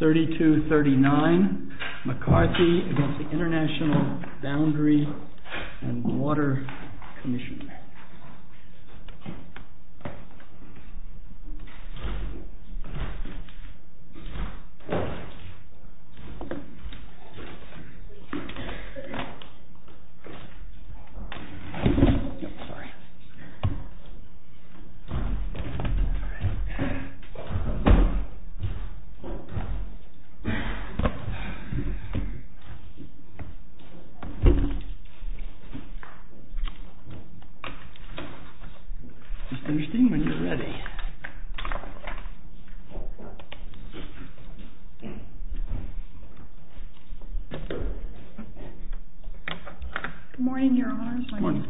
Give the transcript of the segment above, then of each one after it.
3239 McCarthy v. Intl. Boundary & Water Commission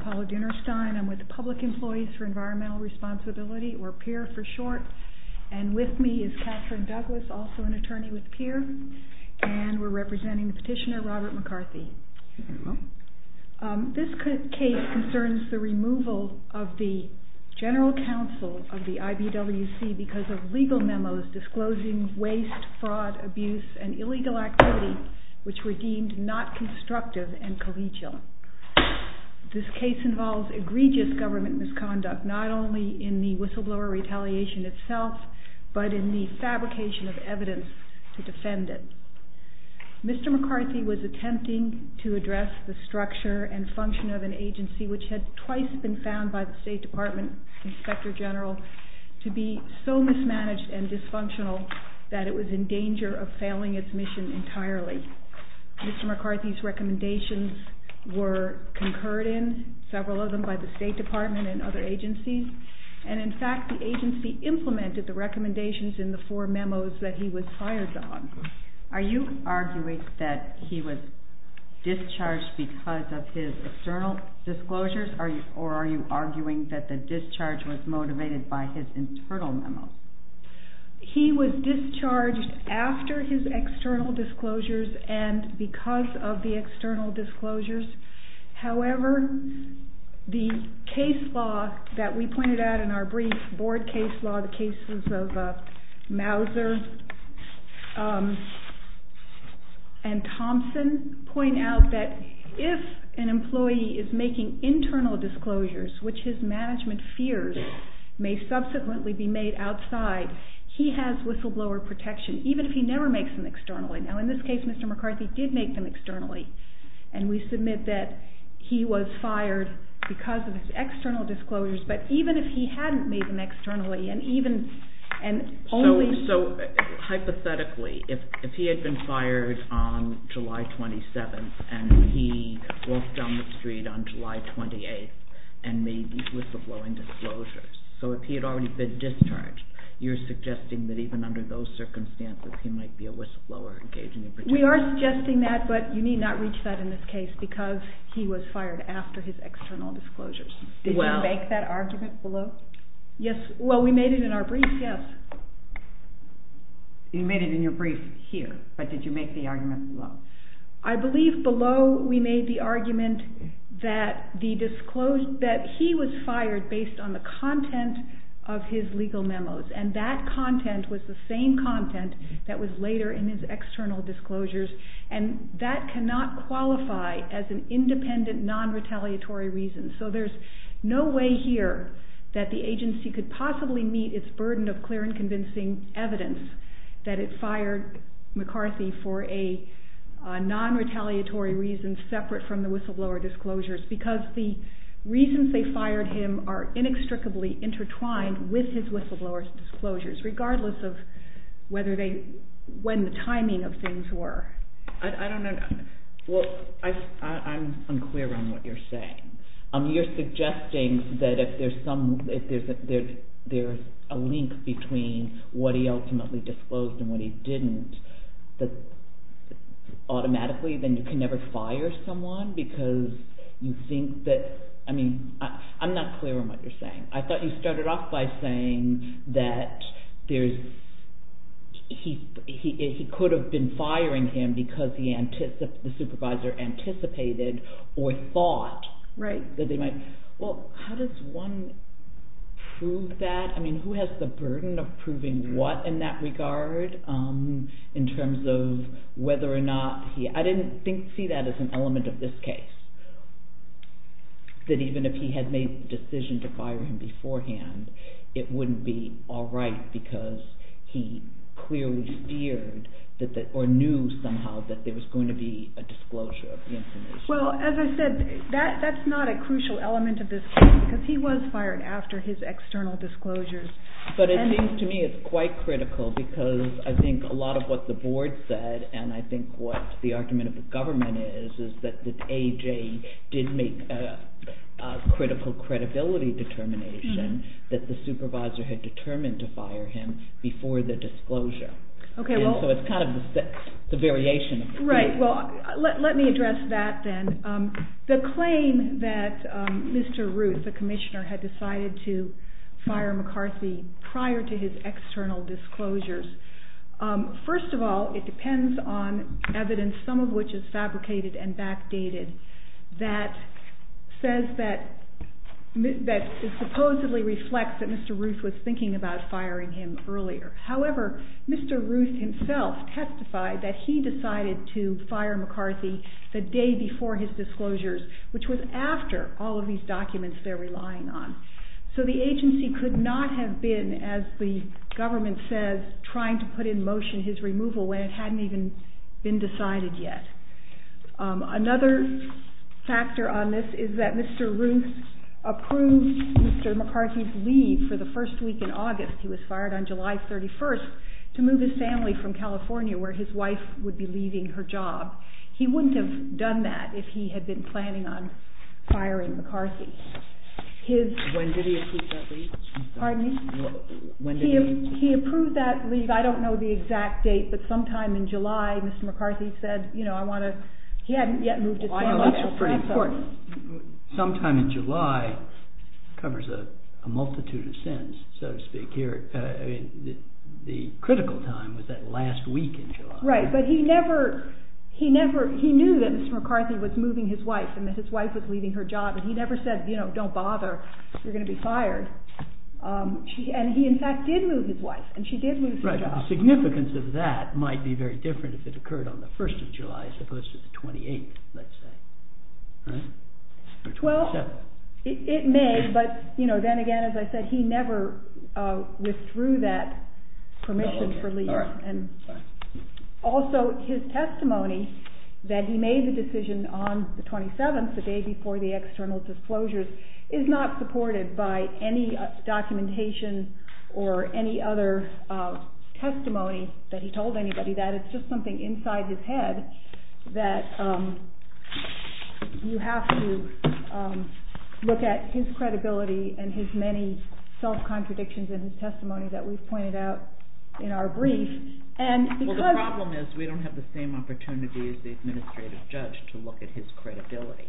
Paula Dinerstein, Public Employees for Environmental Responsibility, or PIRR for short. And with me is Catherine Douglas, also an attorney with PIRR. And we're representing the petitioner, Robert McCarthy. This case concerns the removal of the general counsel of the IBWC because of legal memos disclosing waste, fraud, abuse, and illegal activity which were deemed not constructive and collegial. This case involves egregious government misconduct, not only in the whistleblower retaliation itself, but in the fabrication of evidence to defend it. Mr. McCarthy was attempting to address the structure and function of an agency which had twice been found by the State Department Inspector General to be so mismanaged and dysfunctional that it was in danger of failing its mission entirely. Mr. McCarthy's recommendations were concurred in, several of them by the State Department and other agencies, and in fact the agency implemented the recommendations in the four memos that he was hired on. Are you arguing that he was discharged because of his external disclosures, or are you arguing that the discharge was motivated by his internal memos? He was discharged after his external disclosures and because of the external disclosures. However, the case law that we pointed out in our brief board case law, the cases of Mauser and Thompson, point out that if an employee is making internal disclosures, which his management fears may subsequently be made outside, he has whistleblower protection, even if he never makes them externally. Now in this case, Mr. McCarthy did make them externally, and we submit that he was fired because of his external disclosures, but even if he hadn't made them externally and only... So hypothetically, if he had been fired on July 27th and he walked down the street on July 28th and made these whistleblowing disclosures, so if he had already been discharged, you're suggesting that even under those circumstances he might be a whistleblower engaging in protection? We are suggesting that, but you need not reach that in this case because he was fired after his external disclosures. Did you make that argument below? Yes. Well, we made it in our brief, yes. You made it in your brief here, but did you make the argument below? I believe below we made the argument that he was fired based on the content of his legal memos, and that content was the same content that was later in his external disclosures, and that cannot qualify as an independent, non-retaliatory reason. So there's no way here that the agency could possibly meet its burden of clear and convincing evidence that it fired McCarthy for a non-retaliatory reason separate from the whistleblower disclosures because the reasons they fired him are inextricably intertwined with his whistleblower disclosures, regardless of when the timing of things were. I don't know. Well, I'm unclear on what you're saying. You're suggesting that if there's a link between what he ultimately disclosed and what he didn't, that automatically then you can never fire someone because you think that – I mean, I'm not clear on what you're saying. I thought you started off by saying that he could have been firing him because the supervisor anticipated or thought that they might – well, how does one prove that? I mean, who has the burden of proving what in that regard in terms of whether or not he – I didn't see that as an element of this case, that even if he had made the decision to fire him beforehand, it wouldn't be all right because he clearly feared or knew somehow that there was going to be a disclosure of the information. Well, as I said, that's not a crucial element of this case because he was fired after his external disclosures. But it seems to me it's quite critical because I think a lot of what the board said and I think what the argument of the government is is that the AJ did make a critical credibility determination that the supervisor had determined to fire him before the disclosure. So it's kind of the variation of the case. Right. Well, let me address that then. The claim that Mr. Ruth, the commissioner, had decided to fire McCarthy prior to his external disclosures, first of all, it depends on evidence, some of which is fabricated and backdated, that says that – that supposedly reflects that Mr. Ruth was thinking about firing him earlier. However, Mr. Ruth himself testified that he decided to fire McCarthy the day before his disclosures, which was after all of these documents they're relying on. So the agency could not have been, as the government says, trying to put in motion his removal when it hadn't even been decided yet. Another factor on this is that Mr. Ruth approved Mr. McCarthy's leave for the first week in August. He was fired on July 31st to move his family from California where his wife would be leaving her job. He wouldn't have done that if he had been planning on firing McCarthy. When did he approve that leave? He approved that leave, I don't know the exact date, but sometime in July Mr. McCarthy said, you know, I want to – he hadn't yet moved his family. Sometime in July covers a multitude of sins, so to speak, here. The critical time was that last week in July. Right, but he never – he knew that Mr. McCarthy was moving his wife and that his wife was leaving her job, and he never said, you know, don't bother, you're going to be fired. And he in fact did move his wife, and she did lose her job. Right, but the significance of that might be very different if it occurred on the 1st of July as opposed to the 28th, let's say. Right? Or 27th. Well, it may, but then again, as I said, he never withdrew that permission for leave. Also, his testimony that he made the decision on the 27th, the day before the external disclosures, is not supported by any documentation or any other testimony that he told anybody that. It's just something inside his head that you have to look at his credibility that we've pointed out in our brief, and because – Well, the problem is we don't have the same opportunity as the administrative judge to look at his credibility.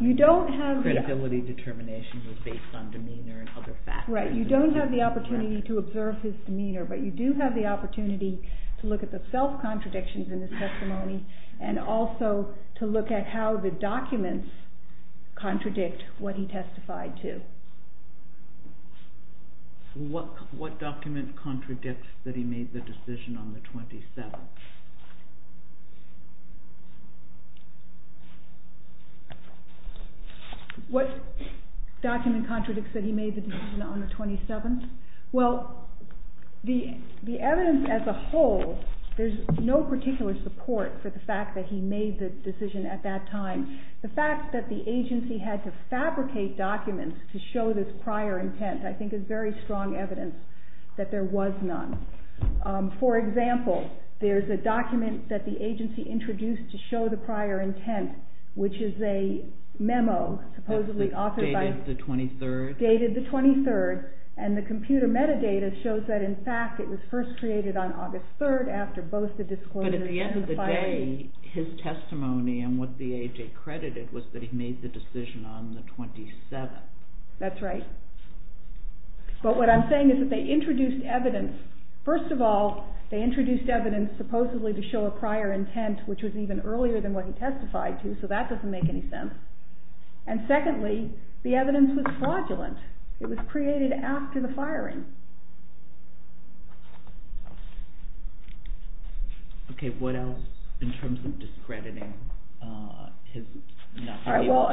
You don't have the – Credibility determination was based on demeanor and other factors. Right, you don't have the opportunity to observe his demeanor, but you do have the opportunity to look at the self-contradictions in his testimony, and also to look at how the documents contradict what he testified to. What document contradicts that he made the decision on the 27th? What document contradicts that he made the decision on the 27th? Well, the evidence as a whole, there's no particular support for the fact that he made the decision at that time. The fact that the agency had to fabricate documents to show this prior intent I think is very strong evidence that there was none. For example, there's a document that the agency introduced to show the prior intent, which is a memo supposedly authored by – Dated the 23rd? Dated the 23rd, and the computer metadata shows that, in fact, it was first created on August 3rd after both the disclosure and the filing. His testimony and what the AJ credited was that he made the decision on the 27th. That's right. But what I'm saying is that they introduced evidence. First of all, they introduced evidence supposedly to show a prior intent, which was even earlier than what he testified to, so that doesn't make any sense. And secondly, the evidence was fraudulent. It was created after the firing. Okay. What else in terms of discrediting? Well,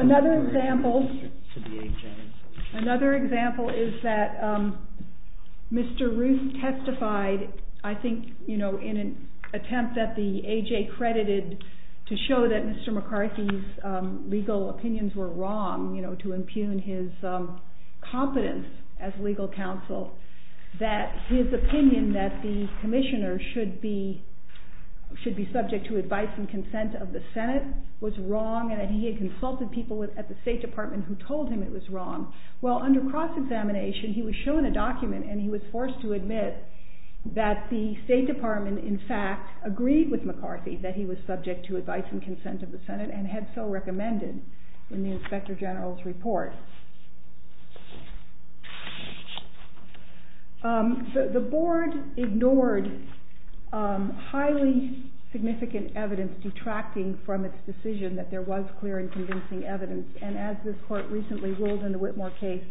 another example is that Mr. Ruth testified, I think, in an attempt that the AJ credited to show that Mr. McCarthy's legal opinions were wrong, to impugn his competence as legal counsel. That his opinion that the commissioner should be subject to advice and consent of the Senate was wrong and that he had consulted people at the State Department who told him it was wrong. Well, under cross-examination, he was shown a document and he was forced to admit that the State Department, in fact, agreed with McCarthy that he was subject to advice and consent of the Senate and had so recommended in the Inspector General's report. The Board ignored highly significant evidence detracting from its decision that there was clear and convincing evidence, and as this Court recently ruled in the Whitmore case,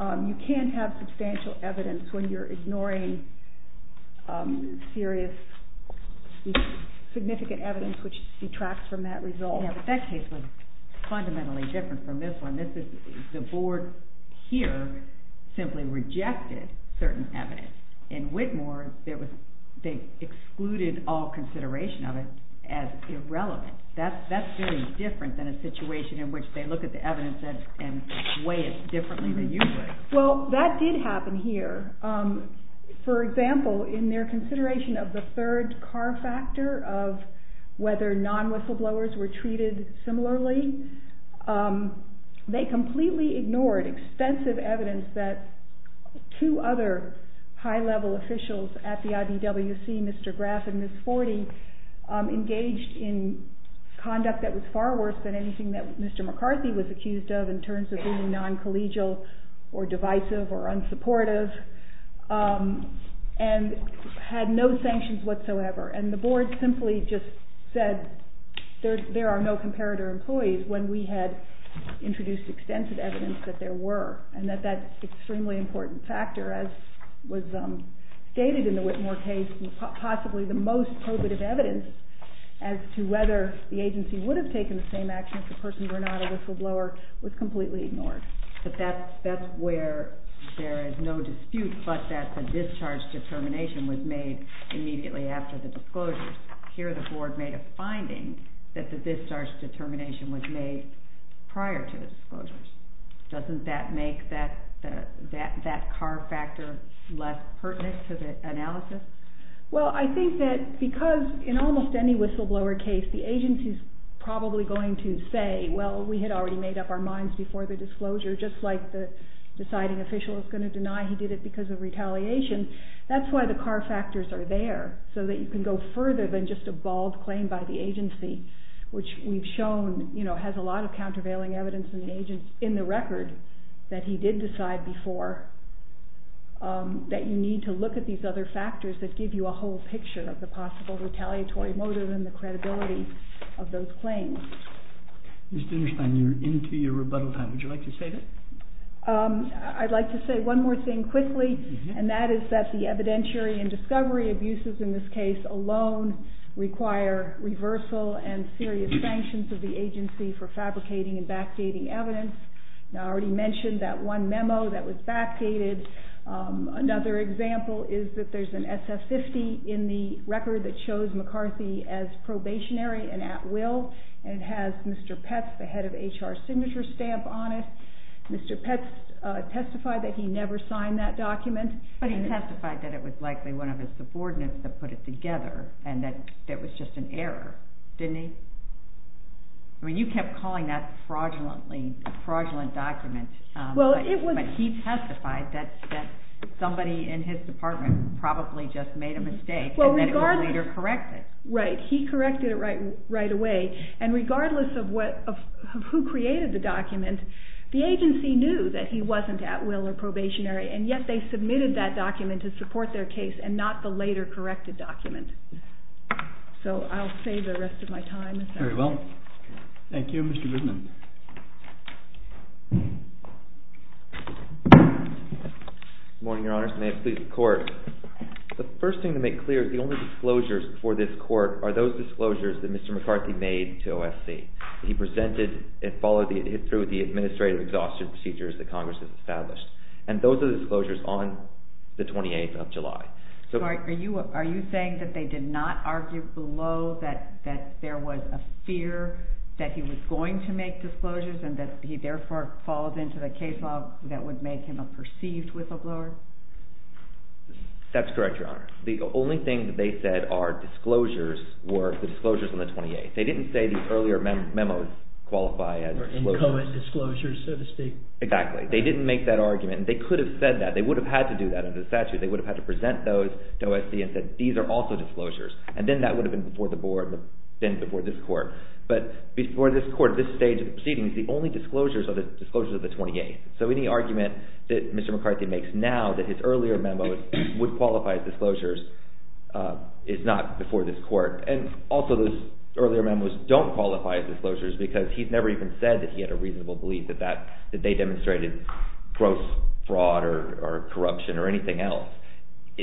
you can't have substantial evidence when you're ignoring serious, significant evidence which detracts from that result. Yeah, but that case was fundamentally different from this one. The Board here simply rejected certain evidence. In Whitmore, they excluded all consideration of it as irrelevant. That's very different than a situation in which they look at the evidence and weigh it differently than you would. Well, that did happen here. For example, in their consideration of the third car factor of whether non-whistleblowers were treated similarly, they completely ignored extensive evidence that two other high-level officials at the IDWC, Mr. Graff and Ms. Forty, engaged in conduct that was far worse than anything that Mr. McCarthy was accused of in terms of being non-collegial or divisive or unsupportive and had no sanctions whatsoever. And the Board simply just said there are no comparator employees when we had introduced extensive evidence that there were, and that that's an extremely important factor, as was stated in the Whitmore case, and possibly the most probative evidence as to whether the agency would have taken the same action if the person were not a whistleblower was completely ignored. But that's where there is no dispute but that the discharge determination was made immediately after the disclosures. Here the Board made a finding that the discharge determination was made prior to the disclosures. Doesn't that make that car factor less pertinent to the analysis? Well, I think that because in almost any whistleblower case, the agency is probably going to say, well, we had already made up our minds before the disclosure, just like the deciding official is going to deny he did it because of retaliation. That's why the car factors are there, so that you can go further than just a bald claim by the agency, which we've shown has a lot of countervailing evidence in the record that he did decide before, that you need to look at these other factors that give you a whole picture of the possible retaliatory motive and the credibility of those claims. Ms. Dindersheim, you're into your rebuttal time. Would you like to say that? I'd like to say one more thing quickly, and that is that the evidentiary and discovery abuses in this case alone require reversal and serious sanctions of the agency for fabricating and backdating evidence. I already mentioned that one memo that was backdated. Another example is that there's an SF-50 in the record that shows McCarthy as probationary and at will, and it has Mr. Petz, the head of HR Signature Stamp, on it. Mr. Petz testified that he never signed that document. But he testified that it was likely one of his subordinates that put it together and that it was just an error, didn't he? I mean, you kept calling that a fraudulent document, but he testified that somebody in his department probably just made a mistake and that it was later corrected. Right. He corrected it right away. And regardless of who created the document, the agency knew that he wasn't at will or probationary, and yet they submitted that document to support their case and not the later corrected document. So I'll save the rest of my time. Very well. Thank you, Mr. Goodman. Good morning, Your Honors. May it please the Court. The first thing to make clear is the only disclosures before this Court are those disclosures that Mr. McCarthy made to OSC. He presented and followed through with the administrative exhaustion procedures that Congress has established. And those are the disclosures on the 28th of July. Sorry, are you saying that they did not argue below that there was a fear that he was going to make those disclosures? And that he therefore followed into the case law that would make him a perceived whistleblower? That's correct, Your Honor. The only thing that they said are disclosures were the disclosures on the 28th. They didn't say the earlier memos qualify as disclosures. Or inchoate disclosures, so to speak. Exactly. They didn't make that argument. They could have said that. They would have had to do that under the statute. They would have had to present those to OSC and said, these are also disclosures. And then that would have been before the Board and then before this Court. But before this Court, at this stage of proceedings, the only disclosures are the disclosures of the 28th. So any argument that Mr. McCarthy makes now that his earlier memos would qualify as disclosures is not before this Court. And also those earlier memos don't qualify as disclosures because he's never even said that he had a reasonable belief that they demonstrated gross fraud or corruption or anything else.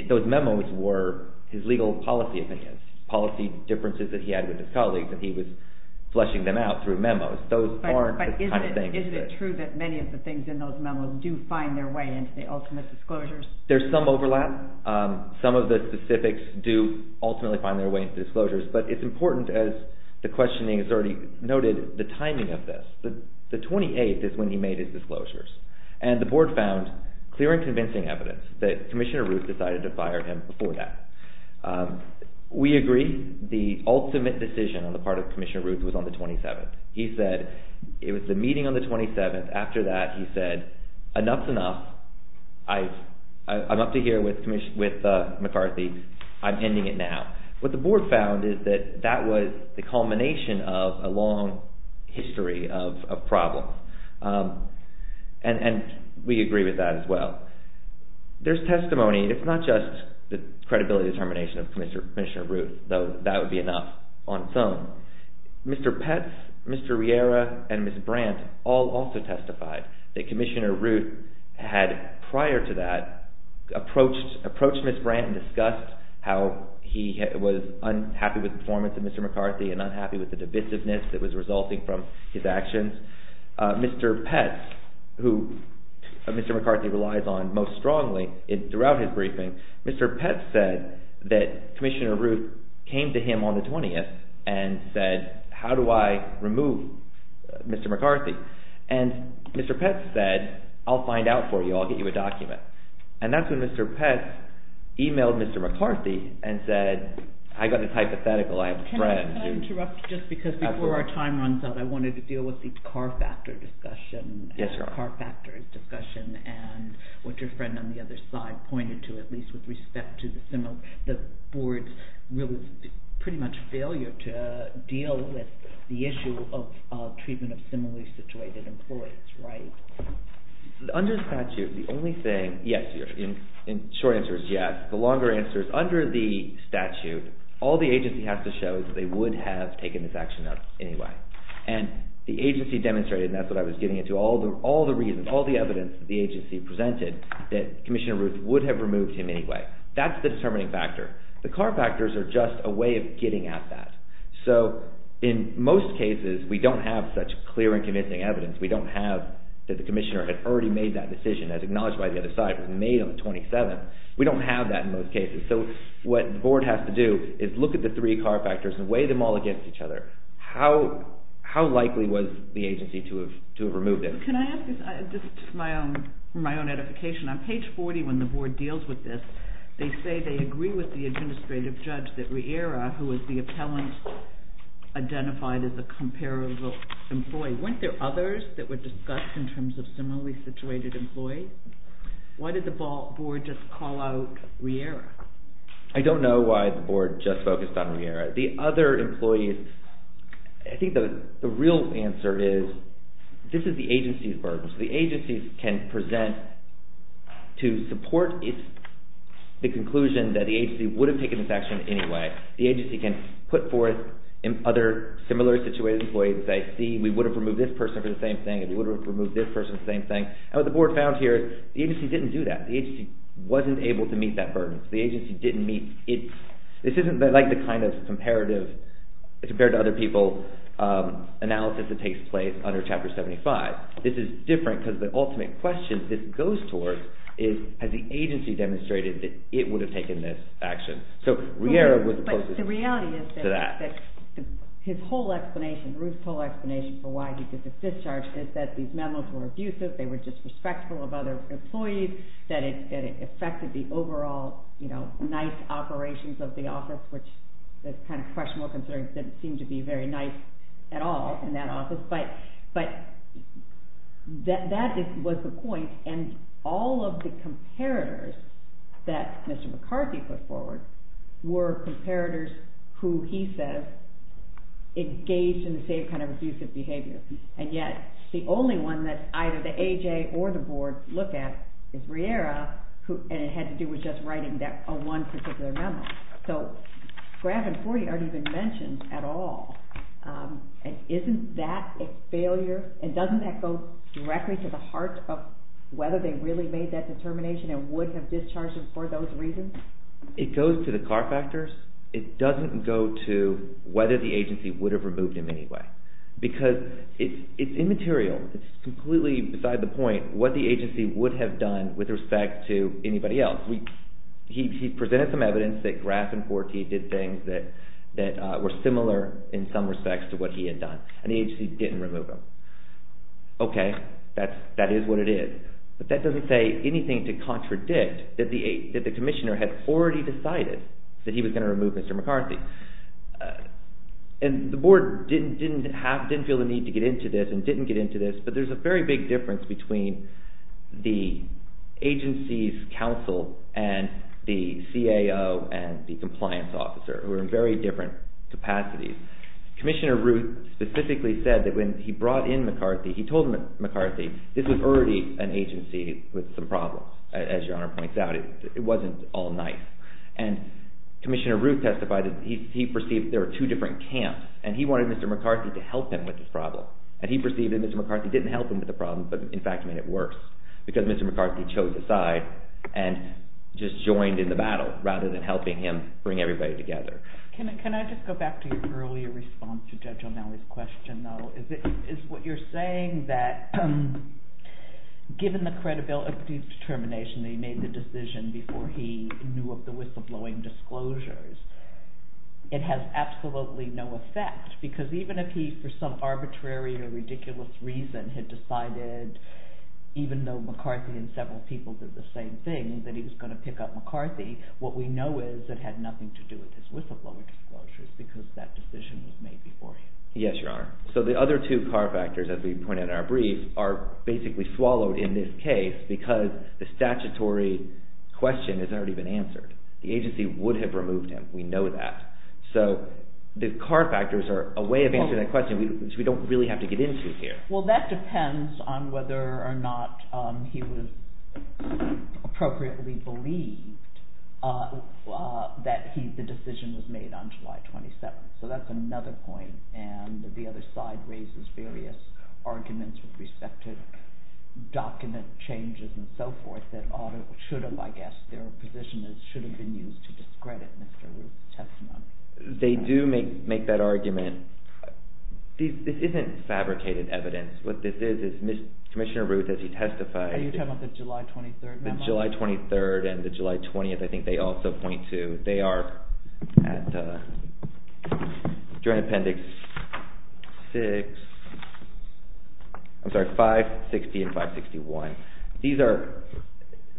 Those memos were his legal policy opinions, policy differences that he had with his colleagues. And he was flushing them out through memos. But isn't it true that many of the things in those memos do find their way into the ultimate disclosures? There's some overlap. Some of the specifics do ultimately find their way into disclosures. But it's important, as the questioning has already noted, the timing of this. The 28th is when he made his disclosures. And the Board found clear and convincing evidence that Commissioner Ruth decided to fire him before that. We agree. The ultimate decision on the part of Commissioner Ruth was on the 27th. He said it was the meeting on the 27th. After that, he said, enough's enough. I'm up to here with McCarthy. I'm ending it now. What the Board found is that that was the culmination of a long history of problems. And we agree with that as well. There's testimony. It's not just the credibility determination of Commissioner Ruth, though that would be enough on its own. Mr. Petz, Mr. Riera, and Ms. Brandt all also testified that Commissioner Ruth had, prior to that, approached Ms. Brandt and discussed how he was unhappy with the performance of Mr. McCarthy and unhappy with the divisiveness that was resulting from his actions. Mr. Petz, who Mr. McCarthy relies on most strongly, throughout his briefing, Mr. Petz said that Commissioner Ruth came to him on the 20th and said, how do I remove Mr. McCarthy? And Mr. Petz said, I'll find out for you. I'll get you a document. And that's when Mr. Petz emailed Mr. McCarthy and said, I've got this hypothetical I have a friend. Can I interrupt just because before our time runs out, I wanted to deal with the car factor discussion and what your friend on the other side pointed to, at least with respect to the board's pretty much failure to deal with the issue of treatment of similarly situated employees, right? Under statute, the only thing, yes, your short answer is yes. The longer answer is, under the statute, all the agency has to show is that they would have taken this action anyway. And the agency demonstrated, and that's what I was getting into, all the reasons, all the evidence the agency presented that Commissioner Ruth would have removed him anyway. That's the determining factor. The car factors are just a way of getting at that. So in most cases, we don't have such clear and convincing evidence. We don't have that the commissioner had already made that decision as acknowledged by the other side, was made on the 27th. We don't have that in most cases. So what the board has to do is look at the three car factors and weigh them all against each other. How likely was the agency to have removed him? Can I ask this? This is just my own edification. On page 40, when the board deals with this, they say they agree with the administrative judge that Riera, who was the appellant, identified as a comparable employee. Weren't there others that were discussed in terms of similarly situated employees? Why did the board just call out Riera? I don't know why the board just focused on Riera. The other employees, I think the real answer is, this is the agency's burden. The agency can present to support the conclusion that the agency would have taken this action anyway. The agency can put forth other similarly situated employees and say, see, we would have removed this person for the same thing, and we would have removed this person for the same thing. What the board found here is the agency didn't do that. The agency wasn't able to meet that burden. The agency didn't meet it. This isn't like the kind of comparative, compared to other people, analysis that takes place under Chapter 75. This is different because the ultimate question this goes towards is has the agency demonstrated that it would have taken this action. So Riera was the closest to that. But the reality is that his whole explanation, Ruth's whole explanation for why he did this discharge is that these memos were abusive, they were disrespectful of other employees, that it affected the overall nice operations of the office, which the kind of professional concerns didn't seem to be very nice at all in that office. But that was the point, and all of the comparators that Mr. McCarthy put forward were comparators who he says engaged in the same kind of abusive behavior. And yet the only one that either the AJ or the board look at is Riera, and it had to do with just writing that one particular memo. So Grab and 40 aren't even mentioned at all. Isn't that a failure? And doesn't that go directly to the heart of whether they really made that determination and would have discharged him for those reasons? It goes to the car factors. It doesn't go to whether the agency would have removed him anyway because it's immaterial. It's completely beside the point. It doesn't go to what the agency would have done with respect to anybody else. He presented some evidence that Grab and 40 did things that were similar in some respects to what he had done, and the agency didn't remove him. Okay, that is what it is. But that doesn't say anything to contradict that the commissioner had already decided that he was going to remove Mr. McCarthy. And the board didn't feel the need to get into this and didn't get into this, but there's a very big difference between the agency's counsel and the CAO and the compliance officer, who are in very different capacities. Commissioner Ruth specifically said that when he brought in McCarthy, he told McCarthy this was already an agency with some problems, as Your Honor points out. It wasn't all nice. And Commissioner Ruth testified that he perceived there were two different camps, and he wanted Mr. McCarthy to help him with this problem. And he perceived that Mr. McCarthy didn't help him with the problem, but in fact made it worse, because Mr. McCarthy chose his side and just joined in the battle rather than helping him bring everybody together. Can I just go back to your earlier response to Judge O'Malley's question, though? Is what you're saying that given the credibility and determination that he made the decision before he knew of the whistleblowing disclosures, it has absolutely no effect? Because even if he, for some arbitrary or ridiculous reason, had decided, even though McCarthy and several people did the same thing, that he was going to pick up McCarthy, what we know is it had nothing to do with his whistleblowing disclosures, because that decision was made before him. Yes, Your Honor. So the other two car factors, as we point out in our brief, are basically swallowed in this case because the statutory question has already been answered. The agency would have removed him, we know that. So the car factors are a way of answering that question, which we don't really have to get into here. Well, that depends on whether or not he was appropriately believed that the decision was made on July 27th. So that's another point, and the other side raises various arguments with respect to document changes and so forth that ought or should have, I guess, their position that it should have been used to discredit Mr. Ruth's testimony. They do make that argument. This isn't fabricated evidence. What this is, is Commissioner Ruth, as he testified… Are you talking about the July 23rd memo? The July 23rd and the July 20th, I think they also point to. They are at, during Appendix 6… I'm sorry, 560 and 561. These are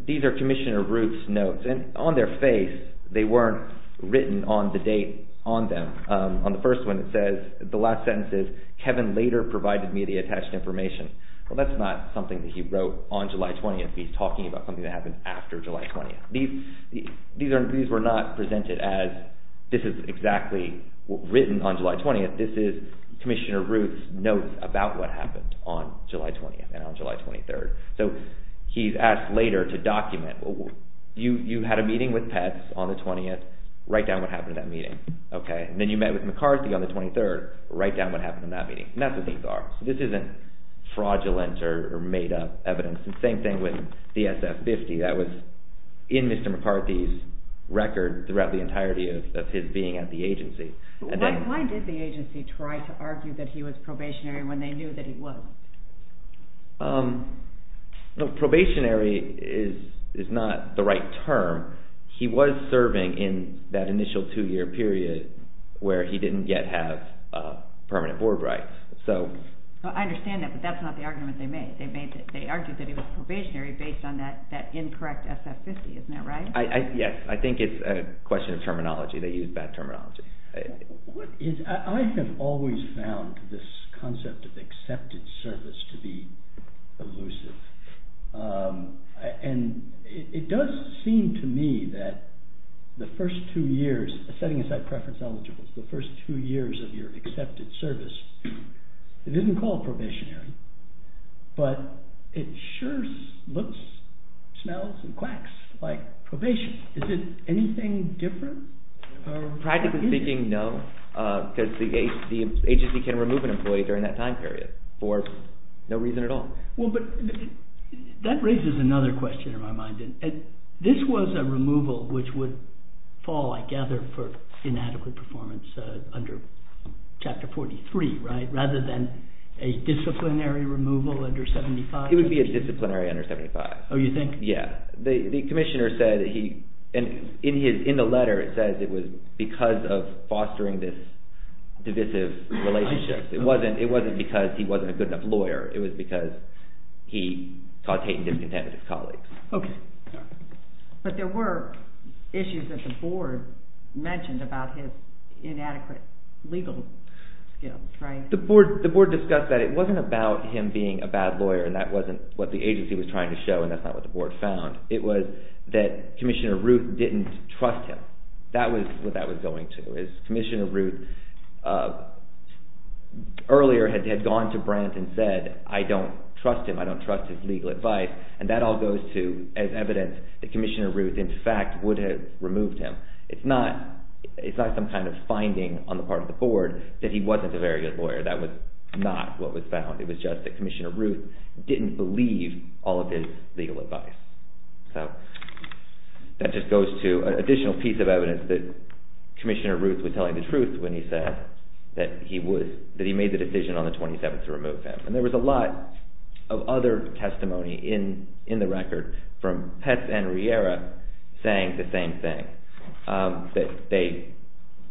Commissioner Ruth's notes, and on their face they weren't written on the date on them. On the first one it says, the last sentence is, Kevin later provided me the attached information. Well, that's not something that he wrote on July 20th. He's talking about something that happened after July 20th. These were not presented as, this is exactly written on July 20th. This is Commissioner Ruth's notes about what happened on July 20th and on July 23rd. So, he's asked later to document. You had a meeting with Pets on the 20th, write down what happened in that meeting. Then you met with McCarthy on the 23rd, write down what happened in that meeting. That's what these are. This isn't fraudulent or made-up evidence. Same thing with the SF-50. That was in Mr. McCarthy's record throughout the entirety of his being at the agency. Why did the agency try to argue that he was probationary when they knew that he was? Probationary is not the right term. He was serving in that initial two-year period where he didn't yet have permanent board rights. I understand that, but that's not the argument they made. They argued that he was probationary based on that incorrect SF-50. Isn't that right? Yes, I think it's a question of terminology. They used bad terminology. I have always found this concept of accepted service to be elusive. It does seem to me that the first two years, setting aside preference eligibles, the first two years of your accepted service, it isn't called probationary, but it sure looks, smells, and quacks like probation. Is it anything different? Practically speaking, no, because the agency can remove an employee during that time period for no reason at all. That raises another question in my mind. This was a removal which would fall, I gather, for inadequate performance under Chapter 43, rather than a disciplinary removal under 75? It would be a disciplinary under 75. Oh, you think? Yes. The commissioner said, in the letter, it says it was because of fostering this divisive relationship. It wasn't because he wasn't a good enough lawyer. It was because he caused hate and discontent with his colleagues. Okay. But there were issues that the board mentioned about his inadequate legal skills, right? The board discussed that it wasn't about him being a bad lawyer, and that wasn't what the agency was trying to show, and that's not what the board found. It was that Commissioner Ruth didn't trust him. That was what that was going to. Commissioner Ruth, earlier, had gone to Brandt and said, I don't trust him. I don't trust his legal advice. And that all goes to as evidence that Commissioner Ruth, in fact, would have removed him. It's not some kind of finding on the part of the board that he wasn't a very good lawyer. That was not what was found. It was just that Commissioner Ruth didn't believe all of his legal advice. So that just goes to an additional piece of evidence that Commissioner Ruth was telling the truth when he said that he made the decision on the 27th to remove him. And there was a lot of other testimony in the record from Petz and Riera saying the same thing.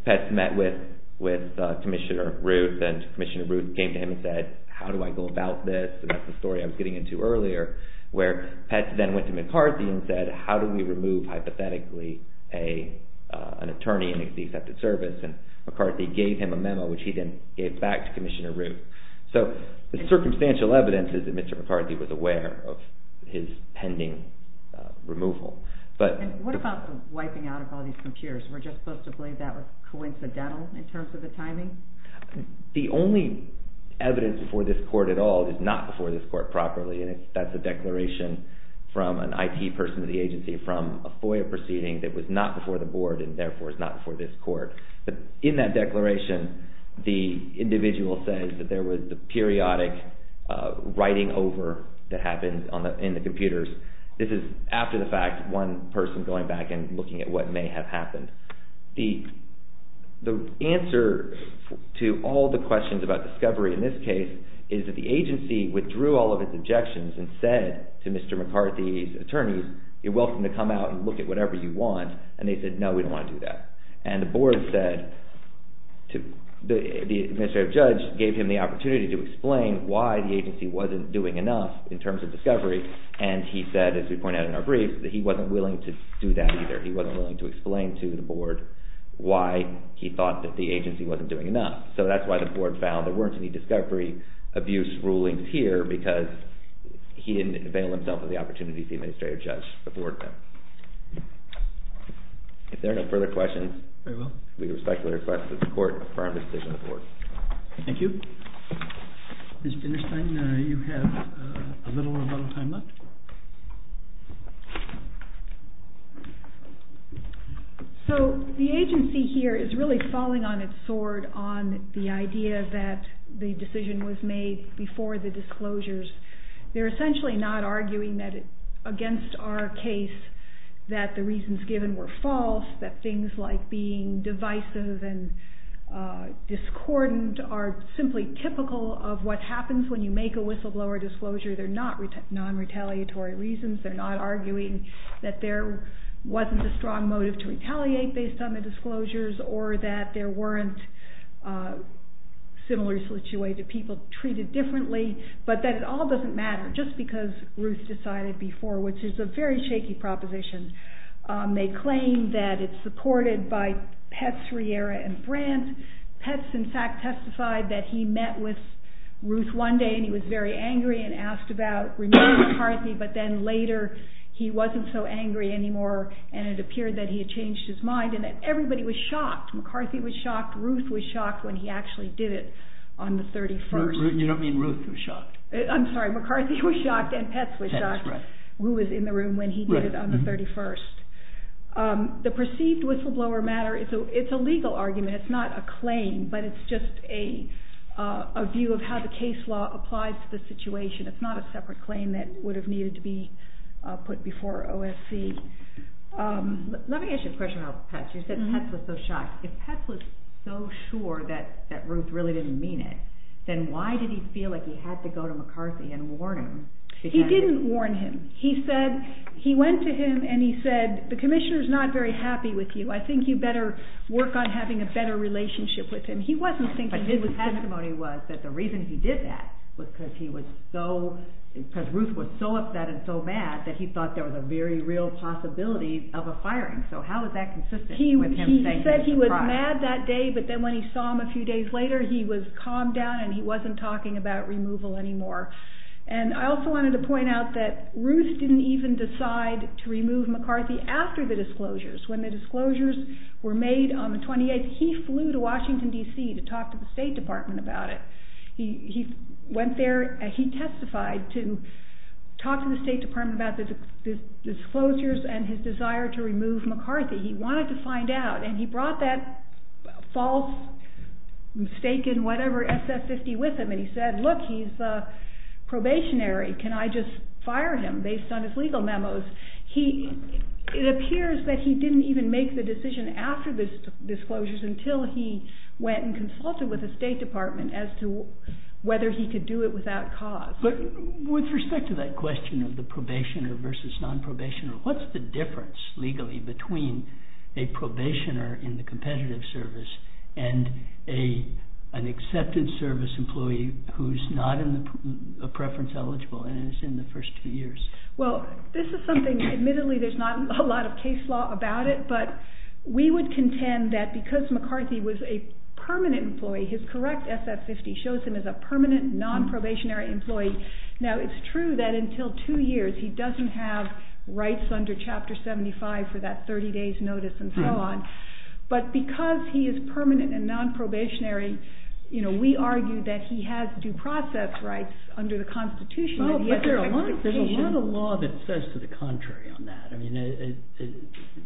Petz met with Commissioner Ruth, and Commissioner Ruth came to him and said, how do I go about this? And that's the story I was getting into earlier, where Petz then went to McCarthy and said, how do we remove, hypothetically, an attorney in the accepted service? And McCarthy gave him a memo, which he then gave back to Commissioner Ruth. So the circumstantial evidence is that Mr. McCarthy was aware of his pending removal. And what about the wiping out of all these computers? Were we just supposed to believe that was coincidental in terms of the timing? The only evidence before this court at all is not before this court properly, and that's a declaration from an IT person of the agency from a FOIA proceeding that was not before the board and therefore is not before this court. But in that declaration, the individual says that there was the periodic writing over that happened in the computers. This is after the fact, one person going back and looking at what may have happened. The answer to all the questions about discovery in this case is that the agency withdrew all of its objections and said to Mr. McCarthy's attorneys, you're welcome to come out and look at whatever you want. And they said, no, we don't want to do that. And the board said, the administrative judge gave him the opportunity to explain why the agency wasn't doing enough in terms of discovery. And he said, as we point out in our brief, that he wasn't willing to do that either. He wasn't willing to explain to the board why he thought that the agency wasn't doing enough. So that's why the board found there weren't any discovery abuse rulings here because he didn't avail himself of the opportunities the administrative judge afforded him. If there are no further questions, we respectfully request that the court affirm the decision of the board. Thank you. Mr. Finnerstein, you have a little or a little time left. So the agency here is really falling on its sword on the idea that the decision was made before the disclosures. They're essentially not arguing that against our case that the reasons given were false, that things like being divisive and discordant are simply typical of what happens when you make a whistleblower disclosure. They're not non-retaliatory reasons. They're not arguing that there wasn't a strong motive to retaliate based on the disclosures or that there weren't similar situated people treated differently, but that it all doesn't matter just because Ruth decided before, which is a very shaky proposition. They claim that it's supported by Petz, Riera, and Brandt. Petz, in fact, testified that he met with Ruth one day and he was very angry and asked about removing McCarthy, but then later he wasn't so angry anymore and it appeared that he had changed his mind and that everybody was shocked. McCarthy was shocked, Ruth was shocked when he actually did it on the 31st. You don't mean Ruth was shocked. I'm sorry, McCarthy was shocked and Petz was shocked, who was in the room when he did it on the 31st. The perceived whistleblower matter, it's a legal argument, it's not a claim, but it's just a view of how the case law applies to the situation. It's not a separate claim that would have needed to be put before OSC. Let me ask you a question about Petz. You said Petz was so shocked. If Petz was so sure that Ruth really didn't mean it, then why did he feel like he had to go to McCarthy and warn him? He didn't warn him. He said, he went to him and he said, the commissioner's not very happy with you. I think you better work on having a better relationship with him. But his testimony was that the reason he did that was because he was so, because Ruth was so upset and so mad that he thought there was a very real possibility of a firing. So how is that consistent with him saying he was surprised? He said he was mad that day, but then when he saw him a few days later, he was calmed down and he wasn't talking about removal anymore. And I also wanted to point out that Ruth didn't even decide to remove McCarthy after the disclosures. When the disclosures were made on the 28th, he flew to Washington, D.C. to talk to the State Department about it. He went there and he testified to talk to the State Department about the disclosures and his desire to remove McCarthy. He wanted to find out and he brought that false, mistaken, whatever SS-50 with him and he said, look, he's a probationary. Can I just fire him based on his legal memos? It appears that he didn't even make the decision after the disclosures until he went and consulted with the State Department as to whether he could do it without cause. But with respect to that question of the probationer versus non-probationer, what's the difference legally between a probationer in the competitive service and an accepted service employee who's not in the preference eligible and is in the first two years? Well, this is something, admittedly, there's not a lot of case law about it, but we would contend that because McCarthy was a permanent employee, his correct SS-50 shows him as a permanent non-probationary employee. Now, it's true that until two years he doesn't have rights under Chapter 75 for that 30 days notice and so on, but because he is permanent and non-probationary, we argue that he has due process rights under the Constitution. Well, but there's a lot of law that says to the contrary on that. I mean,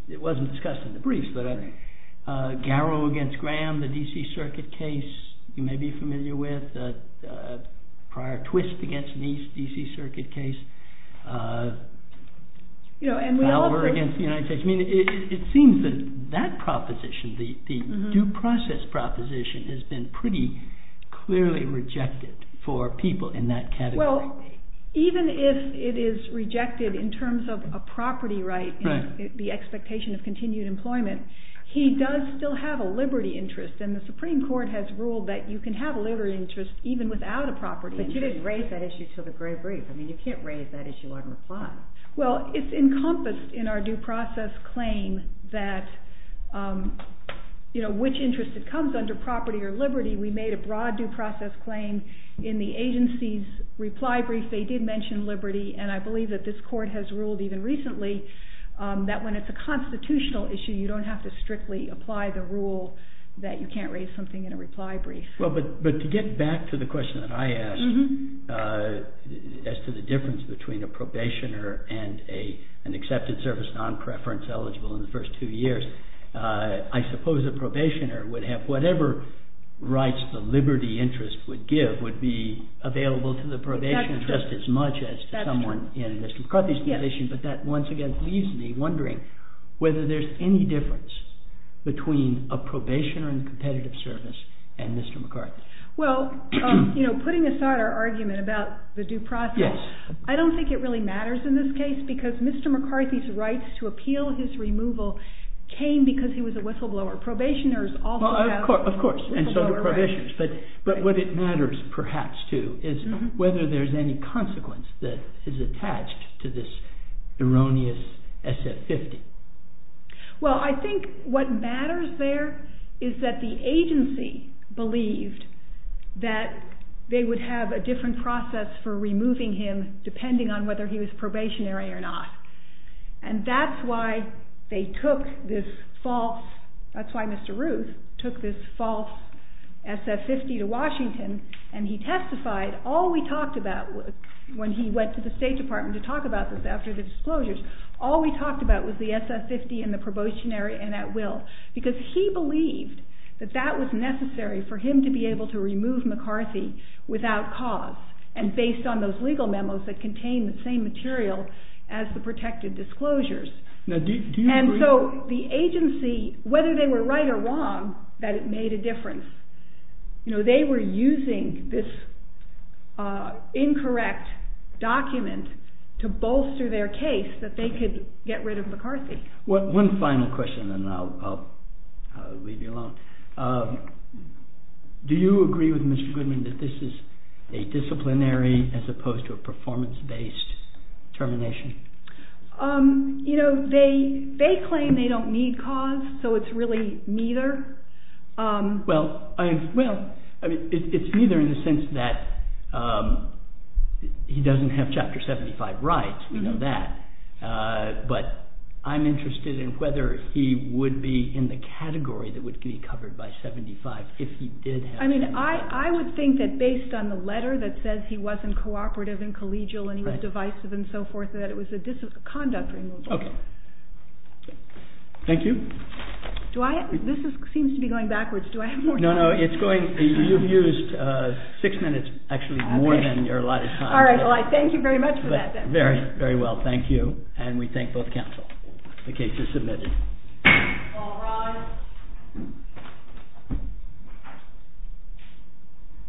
it wasn't discussed in the briefs, but Garrow against Graham, the D.C. Circuit case you may be familiar with, prior twist against the D.C. Circuit case, Fowler against the United States. I mean, it seems that that proposition, the due process proposition, has been pretty clearly rejected for people in that category. Well, even if it is rejected in terms of a property right, the expectation of continued employment, he does still have a liberty interest, and the Supreme Court has ruled that you can have a liberty interest even without a property. But you didn't raise that issue until the gray brief. I mean, you can't raise that issue on reply. Well, it's encompassed in our due process claim that which interest it comes under, property or liberty. We made a broad due process claim in the agency's reply brief. They did mention liberty, and I believe that this court has ruled even recently that when it's a constitutional issue, you don't have to strictly apply the rule that you can't raise something in a reply brief. Well, but to get back to the question that I asked as to the difference between a probationer and an accepted service non-preference eligible in the first two years, I suppose a probationer would have whatever rights the liberty interest would give would be available to the probationer just as much as to someone in Mr. McCarthy's position. But that once again leaves me wondering whether there's any difference between a probationer and competitive service and Mr. McCarthy. Well, you know, putting aside our argument about the due process, I don't think it really matters in this case because Mr. McCarthy's rights to appeal his removal came because he was a whistleblower. Probationers also have whistleblower rights. Of course, and so do probationers. But what it matters perhaps, too, is whether there's any consequence that is attached to this erroneous SF-50. Well, I think what matters there is that the agency believed that they would have a different process for removing him depending on whether he was probationary or not. And that's why they took this false... That's why Mr. Ruth took this false SF-50 to Washington and he testified. All we talked about when he went to the State Department to talk about this after the disclosures, all we talked about was the SF-50 and the probationary and at will because he believed that that was necessary for him to be able to remove McCarthy without cause and based on those legal memos that contained the same material as the protected disclosures. And so the agency, whether they were right or wrong, that it made a difference. They were using this incorrect document to bolster their case that they could get rid of McCarthy. One final question and then I'll leave you alone. Do you agree with Mr. Goodman that this is a disciplinary as opposed to a performance-based termination? You know, they claim they don't need cause, so it's really neither. Well, it's neither in the sense that he doesn't have Chapter 75 rights, we know that, but I'm interested in whether he would be in the category that would be covered by 75 if he did have... I mean, I would think that based on the letter that says he wasn't cooperative and collegial and he was divisive and so forth, that it was a conduct removal. Okay. Thank you. This seems to be going backwards. Do I have more time? No, no, you've used six minutes, actually, more than your allotted time. All right, well, I thank you very much for that. Very, very well. Thank you. And we thank both counsel. The case is submitted. All rise.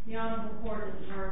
The Honorable Court is adjourned. Thank you.